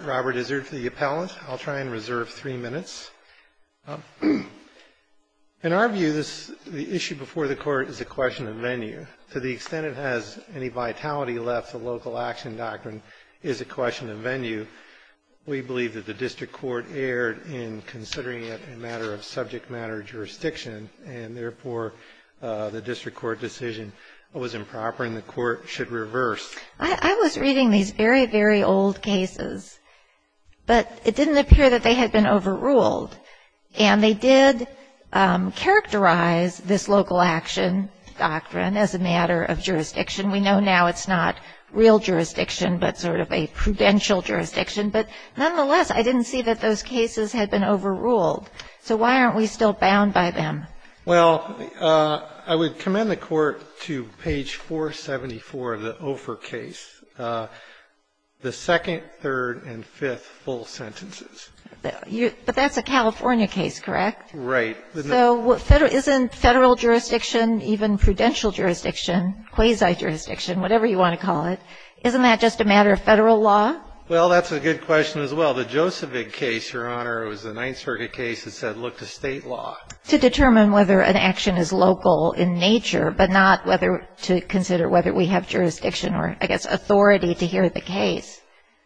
Robert, is there for the appellant? I'll try and reserve three minutes. In our view, the issue before the court is a question of venue. To the extent it has any vitality left, the local action doctrine is a question of venue. We believe that the district court erred in considering it a matter of subject matter jurisdiction, and therefore, the district court decision was improper and the court should reverse. I was reading these very, very old cases, but it didn't appear that they had been overruled. And they did characterize this local action doctrine as a matter of jurisdiction. We know now it's not real jurisdiction, but sort of a prudential jurisdiction. But nonetheless, I didn't see that those cases had been overruled. So why aren't we still bound by them? Well, I would commend the Court to page 474 of the Ofer case, the second, third, and fifth full sentences. But that's a California case, correct? Right. So isn't Federal jurisdiction, even prudential jurisdiction, quasi-jurisdiction, whatever you want to call it, isn't that just a matter of Federal law? Well, that's a good question as well. The Josephine case, Your Honor, was a Ninth Circuit case that said look to State law. To determine whether an action is local in nature, but not to consider whether we have jurisdiction or, I guess, authority to hear the case.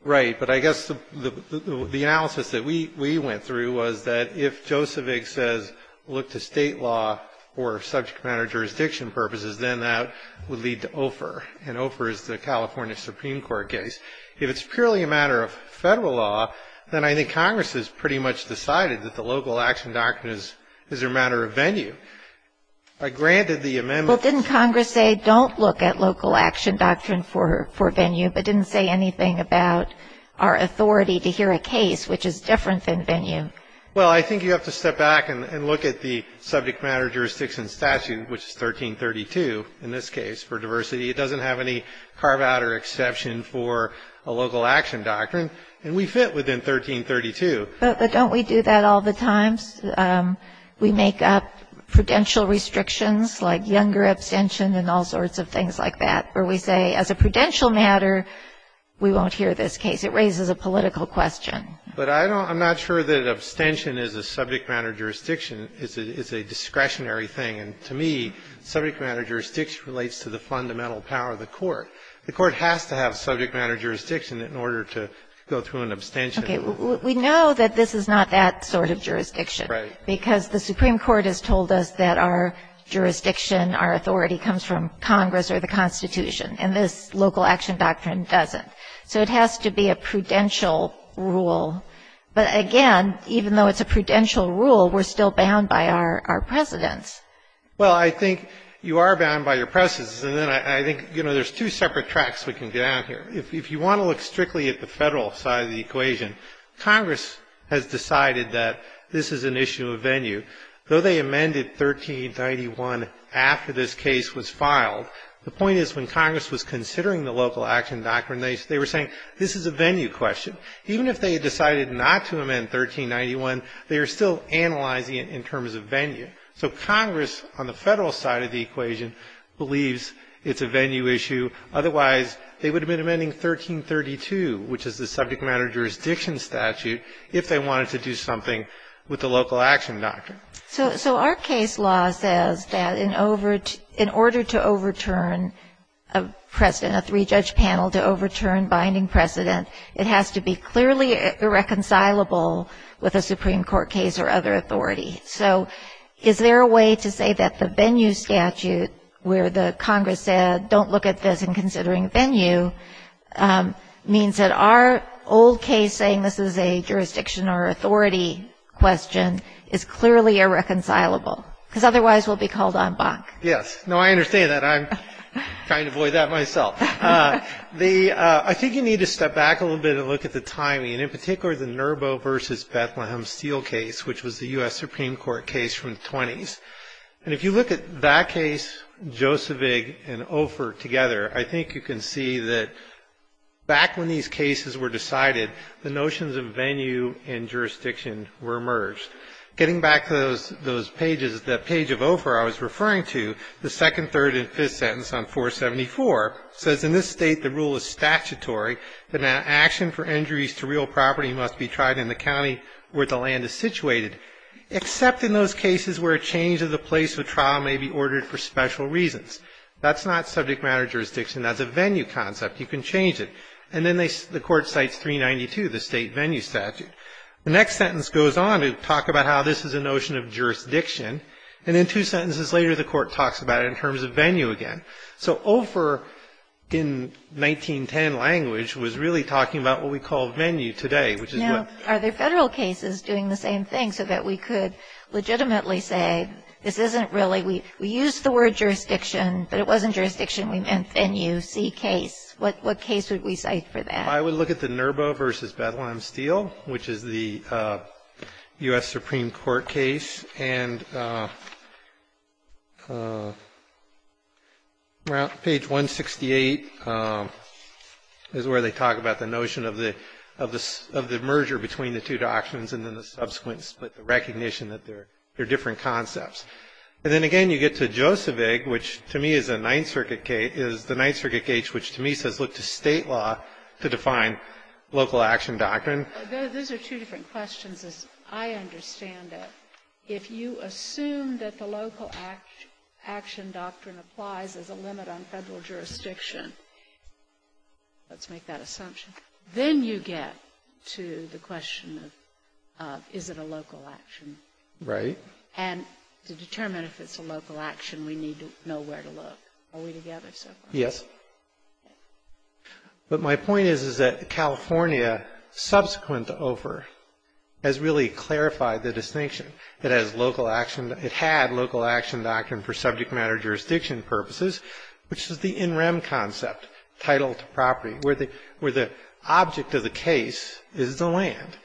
Right. But I guess the analysis that we went through was that if Josephine says look to State law for subject matter jurisdiction purposes, then that would lead to Ofer. And Ofer is the California Supreme Court case. If it's purely a matter of Federal law, then I think Congress has pretty much decided that the local action doctrine is a matter of venue. I granted the amendment. Well, didn't Congress say don't look at local action doctrine for venue, but didn't say anything about our authority to hear a case which is different than venue? Well, I think you have to step back and look at the subject matter jurisdiction statute, which is 1332 in this case for diversity. It doesn't have any carve out or exception for a local action doctrine. And we fit within 1332. But don't we do that all the times? We make up prudential restrictions like younger abstention and all sorts of things like that, where we say as a prudential matter, we won't hear this case. It raises a political question. But I don't – I'm not sure that abstention is a subject matter jurisdiction. It's a discretionary thing. And to me, subject matter jurisdiction relates to the fundamental power of the court. The court has to have subject matter jurisdiction in order to go through an abstention. Okay. We know that this is not that sort of jurisdiction. Right. Because the Supreme Court has told us that our jurisdiction, our authority comes from Congress or the Constitution. And this local action doctrine doesn't. So it has to be a prudential rule. But again, even though it's a prudential rule, we're still bound by our precedents. Well, I think you are bound by your precedents. And then I think, you know, there's two separate tracks we can go down here. If you want to look strictly at the Federal side of the equation, Congress has decided that this is an issue of venue. Though they amended 1391 after this case was filed, the point is when Congress was considering the local action doctrine, they were saying this is a venue question. Even if they had decided not to amend 1391, they were still analyzing it in terms of venue. So Congress on the Federal side of the equation believes it's a venue issue. Otherwise, they would have been amending 1332, which is the subject manager's diction statute, if they wanted to do something with the local action doctrine. So our case law says that in order to overturn a precedent, a three-judge panel, to overturn binding precedent, it has to be clearly irreconcilable with a Supreme Court case or other authority. So is there a way to say that the venue statute, where the Congress said don't look at this in considering venue, means that our old case saying this is a jurisdiction or authority question is clearly irreconcilable? Because otherwise, we'll be called en banc. Yes. No, I understand that. I'm trying to avoid that myself. I think you need to step back a little bit and look at the timing. And in particular, the Nerbo v. Bethlehem Steel case, which was the U.S. Supreme Court case from the 20s. And if you look at that case, Josevig and Ofer together, I think you can see that back when these cases were decided, the notions of venue and jurisdiction were merged. Getting back to those pages, the page of Ofer I was referring to, the second, third, and fifth sentence on 474, says in this state the rule is statutory. The action for injuries to real property must be tried in the county where the land is situated, except in those cases where a change of the place of trial may be ordered for special reasons. That's not subject matter jurisdiction. That's a venue concept. You can change it. And then the court cites 392, the state venue statute. The next sentence goes on to talk about how this is a notion of jurisdiction. And then two sentences later, the court talks about it in terms of venue again. So Ofer in 1910 language was really talking about what we call venue today, which is what — Now, are there Federal cases doing the same thing so that we could legitimately say this isn't really — we used the word jurisdiction, but it wasn't jurisdiction. We meant venue, see case. What case would we cite for that? I would look at the Nerbo v. Bethlehem Steel, which is the U.S. Supreme Court case. And page 168 is where they talk about the notion of the merger between the two doctrines and then the subsequent split, the recognition that they're different concepts. And then again you get to Joseph Egg, which to me is a Ninth Circuit case, which to me says look to State law to define local action doctrine. Those are two different questions, as I understand it. If you assume that the local action doctrine applies as a limit on Federal jurisdiction — let's make that assumption — then you get to the question of is it a local action. Right. And to determine if it's a local action, we need to know where to look. Are we together so far? Yes. But my point is that California, subsequent to OFER, has really clarified the distinction. It had local action doctrine for subject matter jurisdiction purposes, which is the in rem concept, title to property, where the object of the case is the land.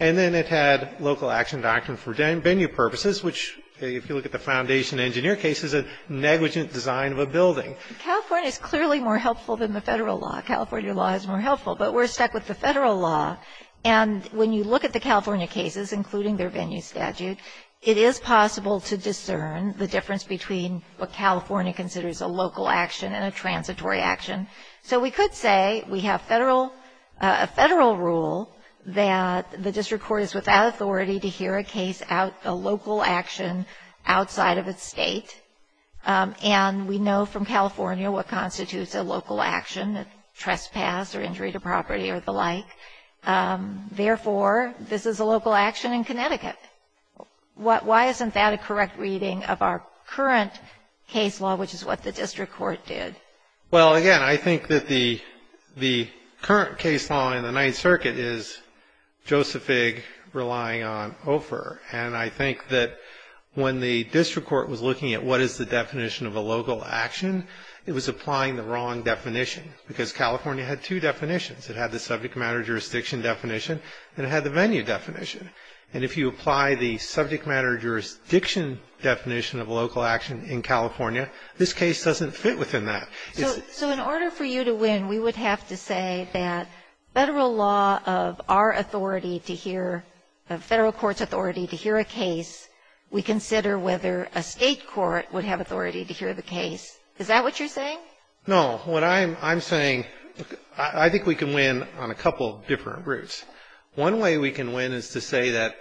And then it had local action doctrine for venue purposes, which if you look at the Foundation Engineer case is a negligent design of a building. California is clearly more helpful than the Federal law. California law is more helpful. But we're stuck with the Federal law. And when you look at the California cases, including their venue statute, it is possible to discern the difference between what California considers a local action and a transitory action. So we could say we have Federal — a Federal rule that the district court is without authority to hear a case out — a local action outside of its state. And we know from California what constitutes a local action, a trespass or injury to property or the like. Therefore, this is a local action in Connecticut. Why isn't that a correct reading of our current case law, which is what the district court did? Well, again, I think that the current case law in the Ninth Circuit is Joseph Figg relying on OFER. And I think that when the district court was looking at what is the definition of a local action, it was applying the wrong definition, because California had two definitions. It had the subject matter jurisdiction definition, and it had the venue definition. And if you apply the subject matter jurisdiction definition of local action in California, this case doesn't fit within that. So in order for you to win, we would have to say that Federal law of our authority to hear — Federal court's authority to hear a case, we consider whether a state court would have authority to hear the case. Is that what you're saying? No. What I'm saying — I think we can win on a couple different routes. One way we can win is to say that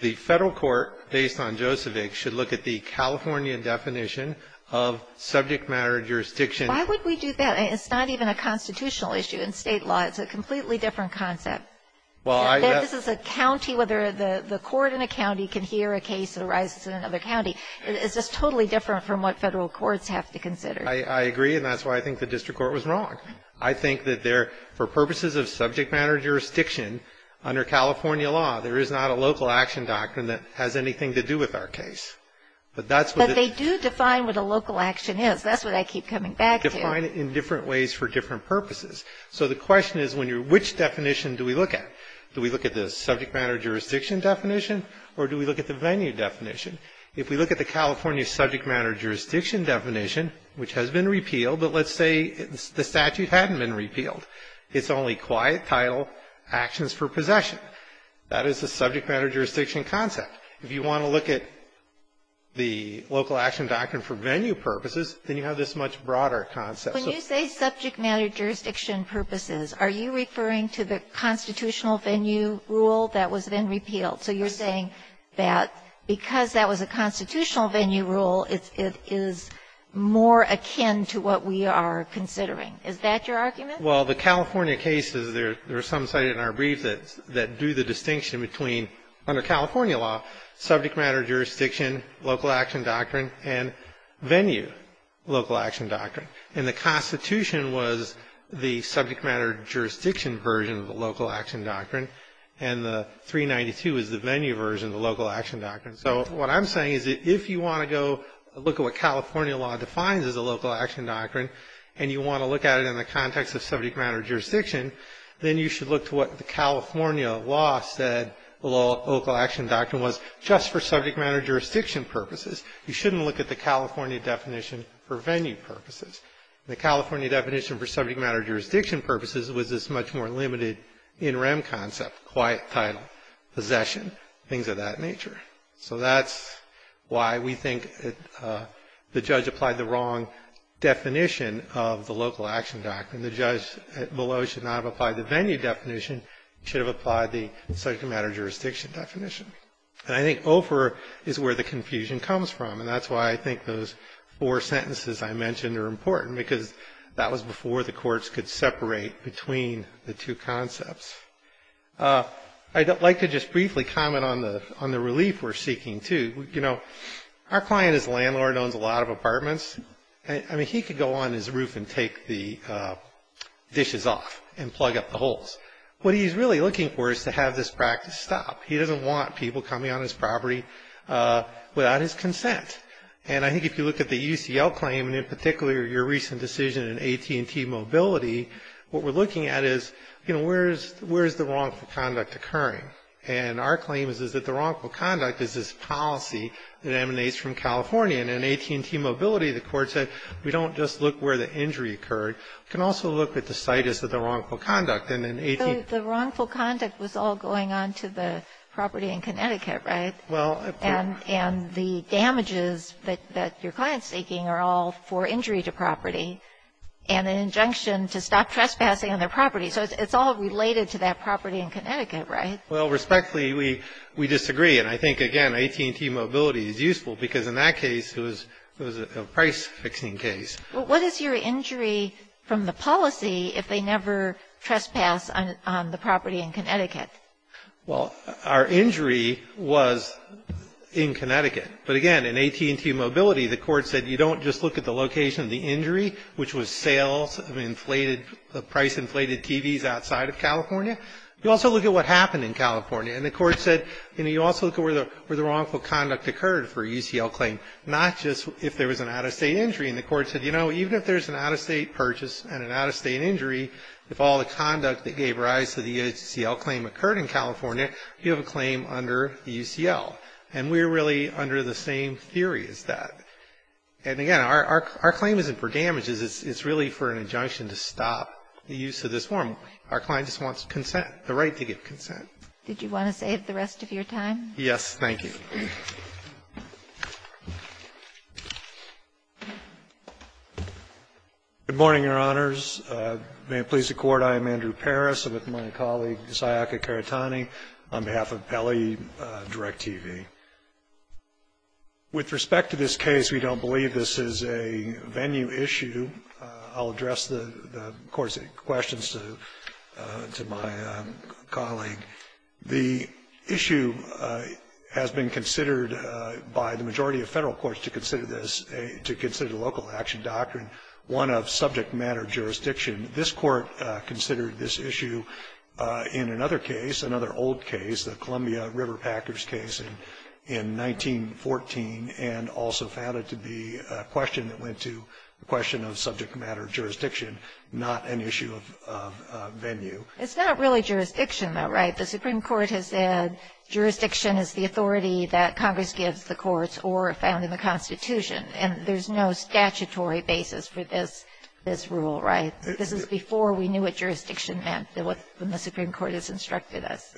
the Federal court, based on Joseph Figg, should look at the Californian definition of subject matter jurisdiction. Why would we do that? It's not even a constitutional issue. In state law, it's a completely different concept. Well, I — Whether this is a county — whether the court in a county can hear a case that arises in another county is just totally different from what Federal courts have to consider. I agree, and that's why I think the district court was wrong. I think that there — for purposes of subject matter jurisdiction, under California law, there is not a local action doctrine that has anything to do with our case. But that's what the — But they do define what a local action is. That's what I keep coming back to. They define it in different ways for different purposes. So the question is when you're — which definition do we look at? Do we look at the subject matter jurisdiction definition, or do we look at the venue definition? If we look at the California subject matter jurisdiction definition, which has been repealed, but let's say the statute hadn't been repealed, it's only quiet, title, actions for possession. That is the subject matter jurisdiction concept. If you want to look at the local action doctrine for venue purposes, then you have this much broader concept. When you say subject matter jurisdiction purposes, are you referring to the constitutional venue rule that was then repealed? So you're saying that because that was a constitutional venue rule, it is more akin to what we are considering. Is that your argument? Well, the California cases, there are some cited in our brief that do the distinction between, under California law, subject matter jurisdiction, local action doctrine, and venue local action doctrine. And the Constitution was the subject matter jurisdiction version of the local action doctrine, and the 392 is the venue version of the local action doctrine. So what I'm saying is that if you want to go look at what California law defines as a local action doctrine, and you want to look at it in the context of subject matter jurisdiction, then you should look to what the California law said local action doctrine was, just for subject matter jurisdiction purposes. You shouldn't look at the California definition for venue purposes. The California definition for subject matter jurisdiction purposes was this much more limited, in rem concept, quiet, title, possession, things of that nature. So that's why we think the judge applied the wrong definition of the local action doctrine. The judge below should not have applied the venue definition, should have applied the subject matter jurisdiction definition. And I think over is where the confusion comes from, and that's why I think those four sentences I mentioned are important, because that was before the courts could separate between the two concepts. I'd like to just briefly comment on the relief we're seeking, too. You know, our client is a landlord, owns a lot of apartments. I mean, he could go on his roof and take the dishes off and plug up the holes. What he's really looking for is to have this practice stop. He doesn't want people coming on his property without his consent. And I think if you look at the UCL claim, and in particular your recent decision in AT&T Mobility, what we're looking at is, you know, where is the wrongful conduct occurring? And our claim is that the wrongful conduct is this policy that emanates from California. And in AT&T Mobility, the court said, we don't just look where the injury occurred. We can also look at the situs of the wrongful conduct. And in AT&T – So the wrongful conduct was all going on to the property in Connecticut, right? Well – And the damages that your client's seeking are all for injury to property, and an injunction to stop trespassing on their property. So it's all related to that property in Connecticut, right? Well, respectfully, we disagree. And I think, again, AT&T Mobility is useful because in that case, it was a price-fixing case. What is your injury from the policy if they never trespass on the property in Connecticut? Well, our injury was in Connecticut. But, again, in AT&T Mobility, the court said, you don't just look at the location of the injury, which was sales of inflated – of price-inflated TVs outside of California. You also look at what happened in California. And the court said, you know, you also look at where the wrongful conduct occurred for a UCL claim, not just if there was an out-of-state injury. And the court said, you know, even if there's an out-of-state purchase and an out-of-state injury, if all the conduct that gave rise to the UCL claim occurred in California, you have a claim under UCL. And we're really under the same theory as that. And, again, our claim isn't for damages. It's really for an injunction to stop the use of this form. Our client just wants consent, the right to give consent. Did you want to save the rest of your time? Yes, thank you. Good morning, Your Honors. May it please the Court, I am Andrew Parris. With respect to this case, we don't believe this is a venue issue. I'll address the court's questions to my colleague. The issue has been considered by the majority of Federal courts to consider this, to consider the local action doctrine one of subject matter jurisdiction. This court considered this issue in another case, another old case, the Columbia River Packers case in 1914, and also found it to be a question that went to the question of subject matter jurisdiction, not an issue of venue. It's not really jurisdiction, though, right? The Supreme Court has said jurisdiction is the authority that Congress gives the courts or found in the Constitution. And there's no statutory basis for this rule, right? This is before we knew what jurisdiction meant, what the Supreme Court has instructed us.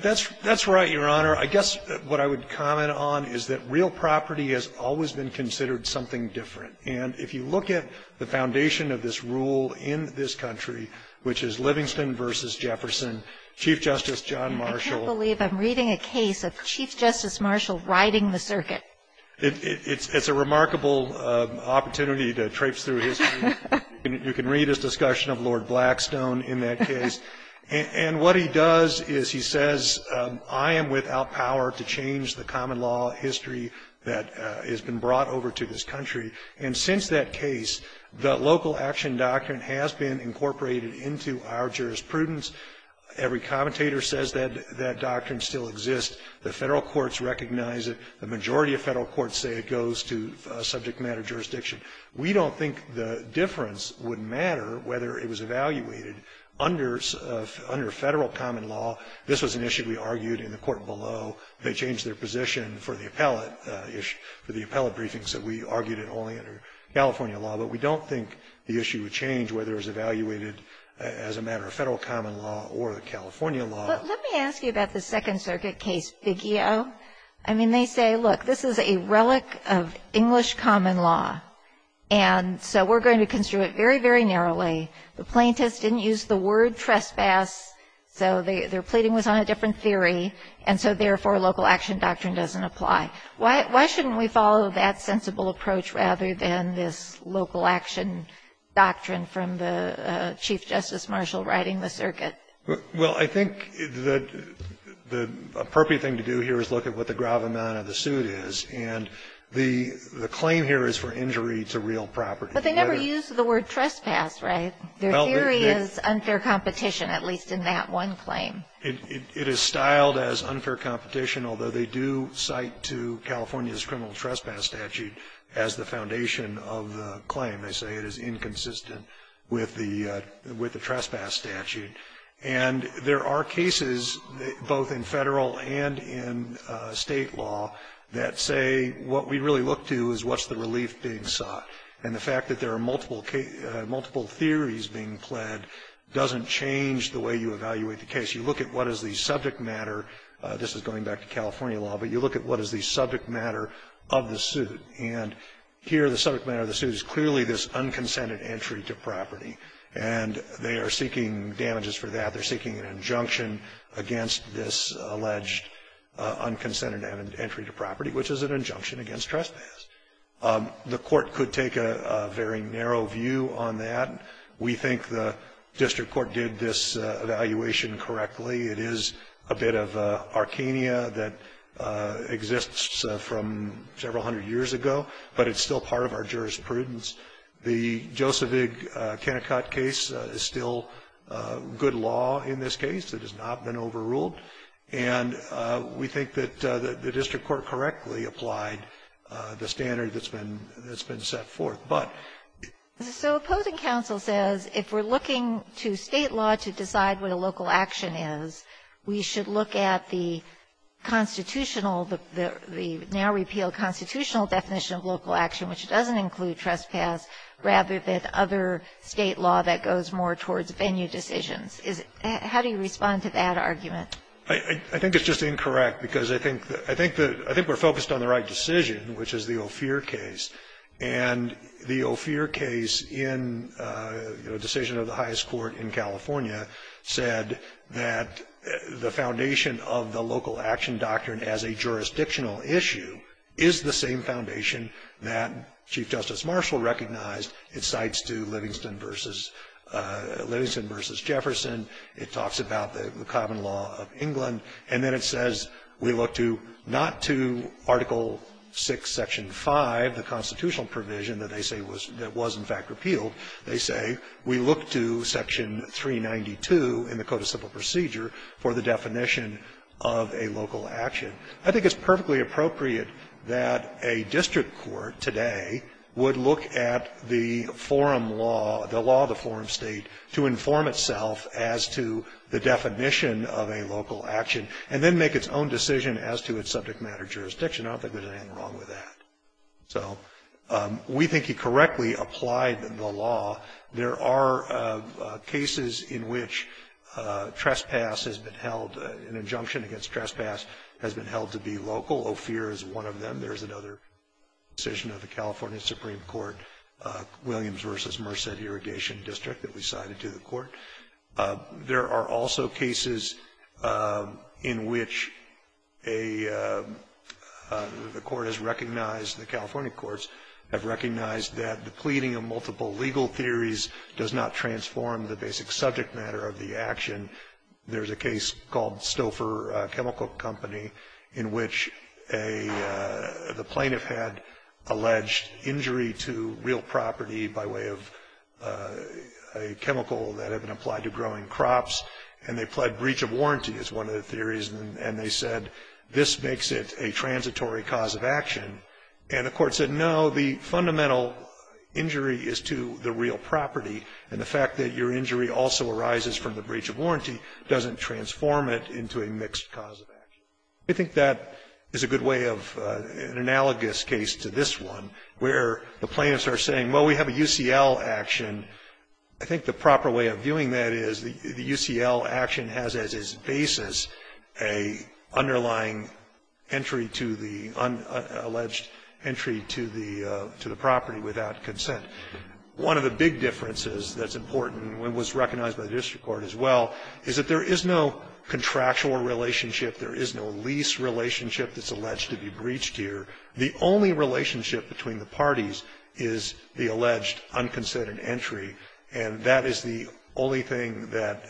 That's right, Your Honor. I guess what I would comment on is that real property has always been considered something different. And if you look at the foundation of this rule in this country, which is Livingston v. Jefferson, Chief Justice John Marshall. I can't believe I'm reading a case of Chief Justice Marshall riding the circuit. It's a remarkable opportunity to traipse through history. You can read his discussion of Lord Blackstone in that case. And what he does is he says I am without power to change the common law history that has been brought over to this country. And since that case, the local action doctrine has been incorporated into our jurisprudence. Every commentator says that that doctrine still exists. The Federal courts recognize it. The majority of Federal courts say it goes to subject matter jurisdiction. We don't think the difference would matter whether it was evaluated under Federal common law. This was an issue we argued in the court below. They changed their position for the appellate issue, for the appellate briefings, that we argued it only under California law. But we don't think the issue would change whether it was evaluated as a matter of Federal common law or the California law. But let me ask you about the Second Circuit case, Biggio. I mean, they say, look, this is a relic of English common law, and so we're going to construe it very, very narrowly. The plaintiffs didn't use the word trespass, so their pleading was on a different theory, and so, therefore, local action doctrine doesn't apply. Why shouldn't we follow that sensible approach rather than this local action doctrine from the Chief Justice Marshall riding the circuit? Well, I think that the appropriate thing to do here is look at what the gravamen of the suit is. And the claim here is for injury to real property. But they never used the word trespass, right? Their theory is unfair competition, at least in that one claim. It is styled as unfair competition, although they do cite to California's criminal trespass statute as the foundation of the claim. They say it is inconsistent with the trespass statute. And there are cases, both in Federal and in State law, that say what we really look to is what's the relief being sought. And the fact that there are multiple theories being pled doesn't change the way you evaluate the case. You look at what is the subject matter. This is going back to California law, but you look at what is the subject matter of the suit. And here the subject matter of the suit is clearly this unconsented entry to property, and they are seeking damages for that. They're seeking an injunction against this alleged unconsented entry to property, which is an injunction against trespass. The court could take a very narrow view on that. We think the district court did this evaluation correctly. It is a bit of arcania that exists from several hundred years ago, but it's still part of our jurisprudence. The Josevig-Kennicott case is still good law in this case. It has not been overruled. And we think that the district court correctly applied the standard that's been set forth. But ---- Kagan. So opposing counsel says if we're looking to State law to decide what a local action is, we should look at the constitutional, the now repealed constitutional definition of local action, which doesn't include trespass, rather than other State law that goes more towards venue decisions. How do you respond to that argument? I think it's just incorrect, because I think we're focused on the right decision, which is the Ophir case. And the Ophir case in, you know, decision of the highest court in California said that the foundation of the local action doctrine as a jurisdictional issue is the same foundation that Chief Justice Marshall recognized. It cites to Livingston v. Jefferson. It talks about the common law of England. And then it says we look to not to Article VI, Section 5, the constitutional provision that they say was in fact repealed. They say we look to Section 392 in the Code of Civil Procedure for the definition of a local action. I think it's perfectly appropriate that a district court today would look at the forum law, the law of the forum State, to inform itself as to the definition of a local action, and then make its own decision as to its subject matter jurisdiction. I don't think there's anything wrong with that. So we think he correctly applied the law. There are cases in which trespass has been held, an injunction against trespass has been held to be local. OPHIR is one of them. There's another decision of the California Supreme Court, Williams v. Merced Irrigation District, that we cited to the court. There are also cases in which a court has recognized, the California courts have recognized that the pleading of multiple legal theories does not transform the basic subject matter of the action. And there's a case called Stouffer Chemical Company in which a, the plaintiff had alleged injury to real property by way of a chemical that had been applied to growing crops, and they pled breach of warranty is one of the theories, and they said this makes it a transitory cause of action. And the court said, no, the fundamental injury is to the real property, and the fact that your injury also arises from the breach of warranty doesn't transform it into a mixed cause of action. I think that is a good way of, an analogous case to this one, where the plaintiffs are saying, well, we have a UCL action. I think the proper way of viewing that is the UCL action has as its basis an underlying entry to the, alleged entry to the property without consent. One of the big differences that's important, and was recognized by the district court as well, is that there is no contractual relationship, there is no lease relationship that's alleged to be breached here. The only relationship between the parties is the alleged unconsented entry, and that is the only thing that,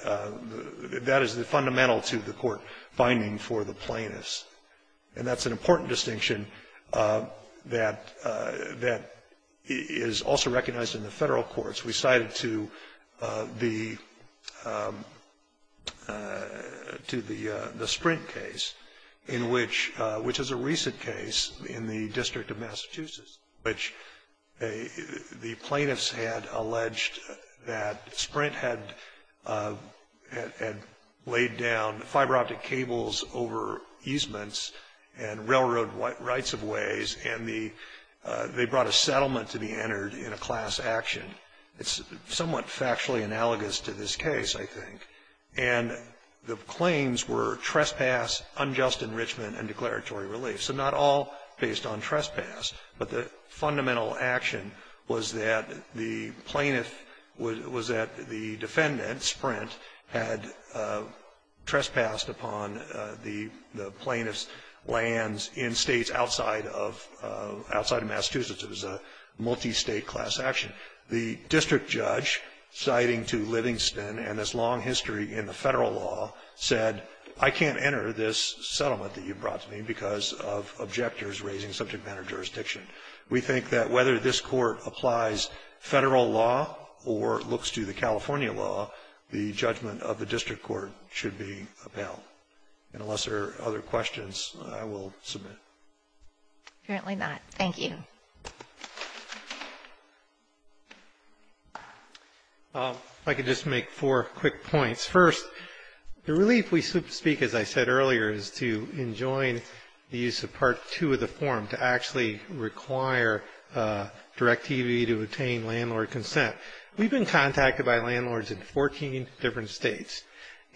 that is the fundamental to the court finding for the plaintiffs. And that's an important distinction that, that is also recognized in the federal courts. We cited to the, to the Sprint case, in which, which is a recent case in the district of Massachusetts, which the plaintiffs had alleged that Sprint had, had laid down fiber optic cables over easements and railroad rights-of-ways, and the, they brought a settlement to be entered in a class action. It's somewhat factually analogous to this case, I think. And the claims were trespass, unjust enrichment, and declaratory relief. So not all based on trespass, but the fundamental action was that the plaintiff, was, was that the defendant, Sprint, had trespassed upon the, the plaintiff's lands in states outside of, outside of Massachusetts. It was a multi-state class action. The district judge, citing to Livingston and its long history in the federal law, said, I can't enter this settlement that you brought to me because of objectors raising subject matter jurisdiction. We think that whether this Court applies Federal law or looks to the California law, the judgment of the district court should be upheld. And unless there are other questions, I will submit. O'Connell. Apparently not. Thank you. I can just make four quick points. First, the relief we speak, as I said earlier, is to enjoin the use of Part 2 of the Direct TV to obtain landlord consent. We've been contacted by landlords in 14 different states.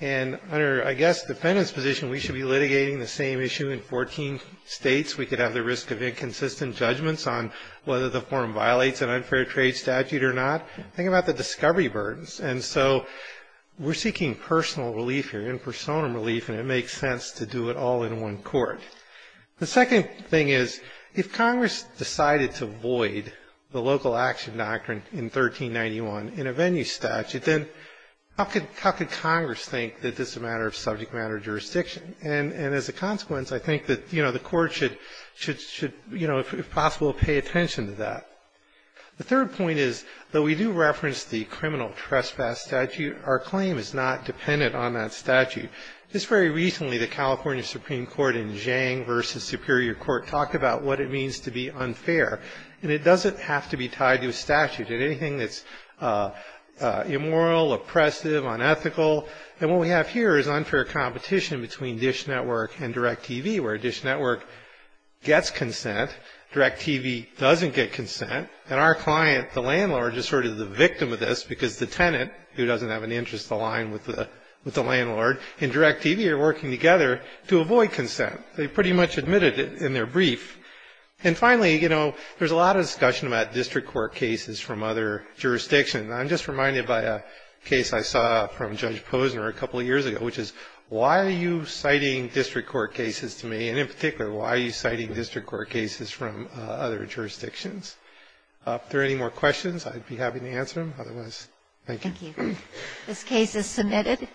And under, I guess, the defendant's position, we should be litigating the same issue in 14 states. We could have the risk of inconsistent judgments on whether the form violates an unfair trade statute or not. Think about the discovery burdens. And so we're seeking personal relief here, in personam relief, and it makes sense to do it all in one court. The second thing is, if Congress decided to void the local action doctrine in 1391 in a venue statute, then how could Congress think that this is a matter of subject matter jurisdiction? And as a consequence, I think that, you know, the Court should, you know, if possible, pay attention to that. The third point is, though we do reference the criminal trespass statute, our claim is not dependent on that statute. Just very recently, the California Supreme Court in Zhang v. Superior Court talked about what it means to be unfair. And it doesn't have to be tied to a statute. Anything that's immoral, oppressive, unethical. And what we have here is unfair competition between DISH Network and Direct TV, where DISH Network gets consent, Direct TV doesn't get consent. And our client, the landlord, is sort of the victim of this because the tenant, who doesn't have an interest aligned with the landlord, and Direct TV are working together to avoid consent. They pretty much admitted it in their brief. And finally, you know, there's a lot of discussion about district court cases from other jurisdictions. I'm just reminded by a case I saw from Judge Posner a couple of years ago, which is, why are you citing district court cases to me, and in particular, why are you citing district court cases from other jurisdictions? If there are any more questions, I'd be happy to answer them. Otherwise, thank you. This case is submitted.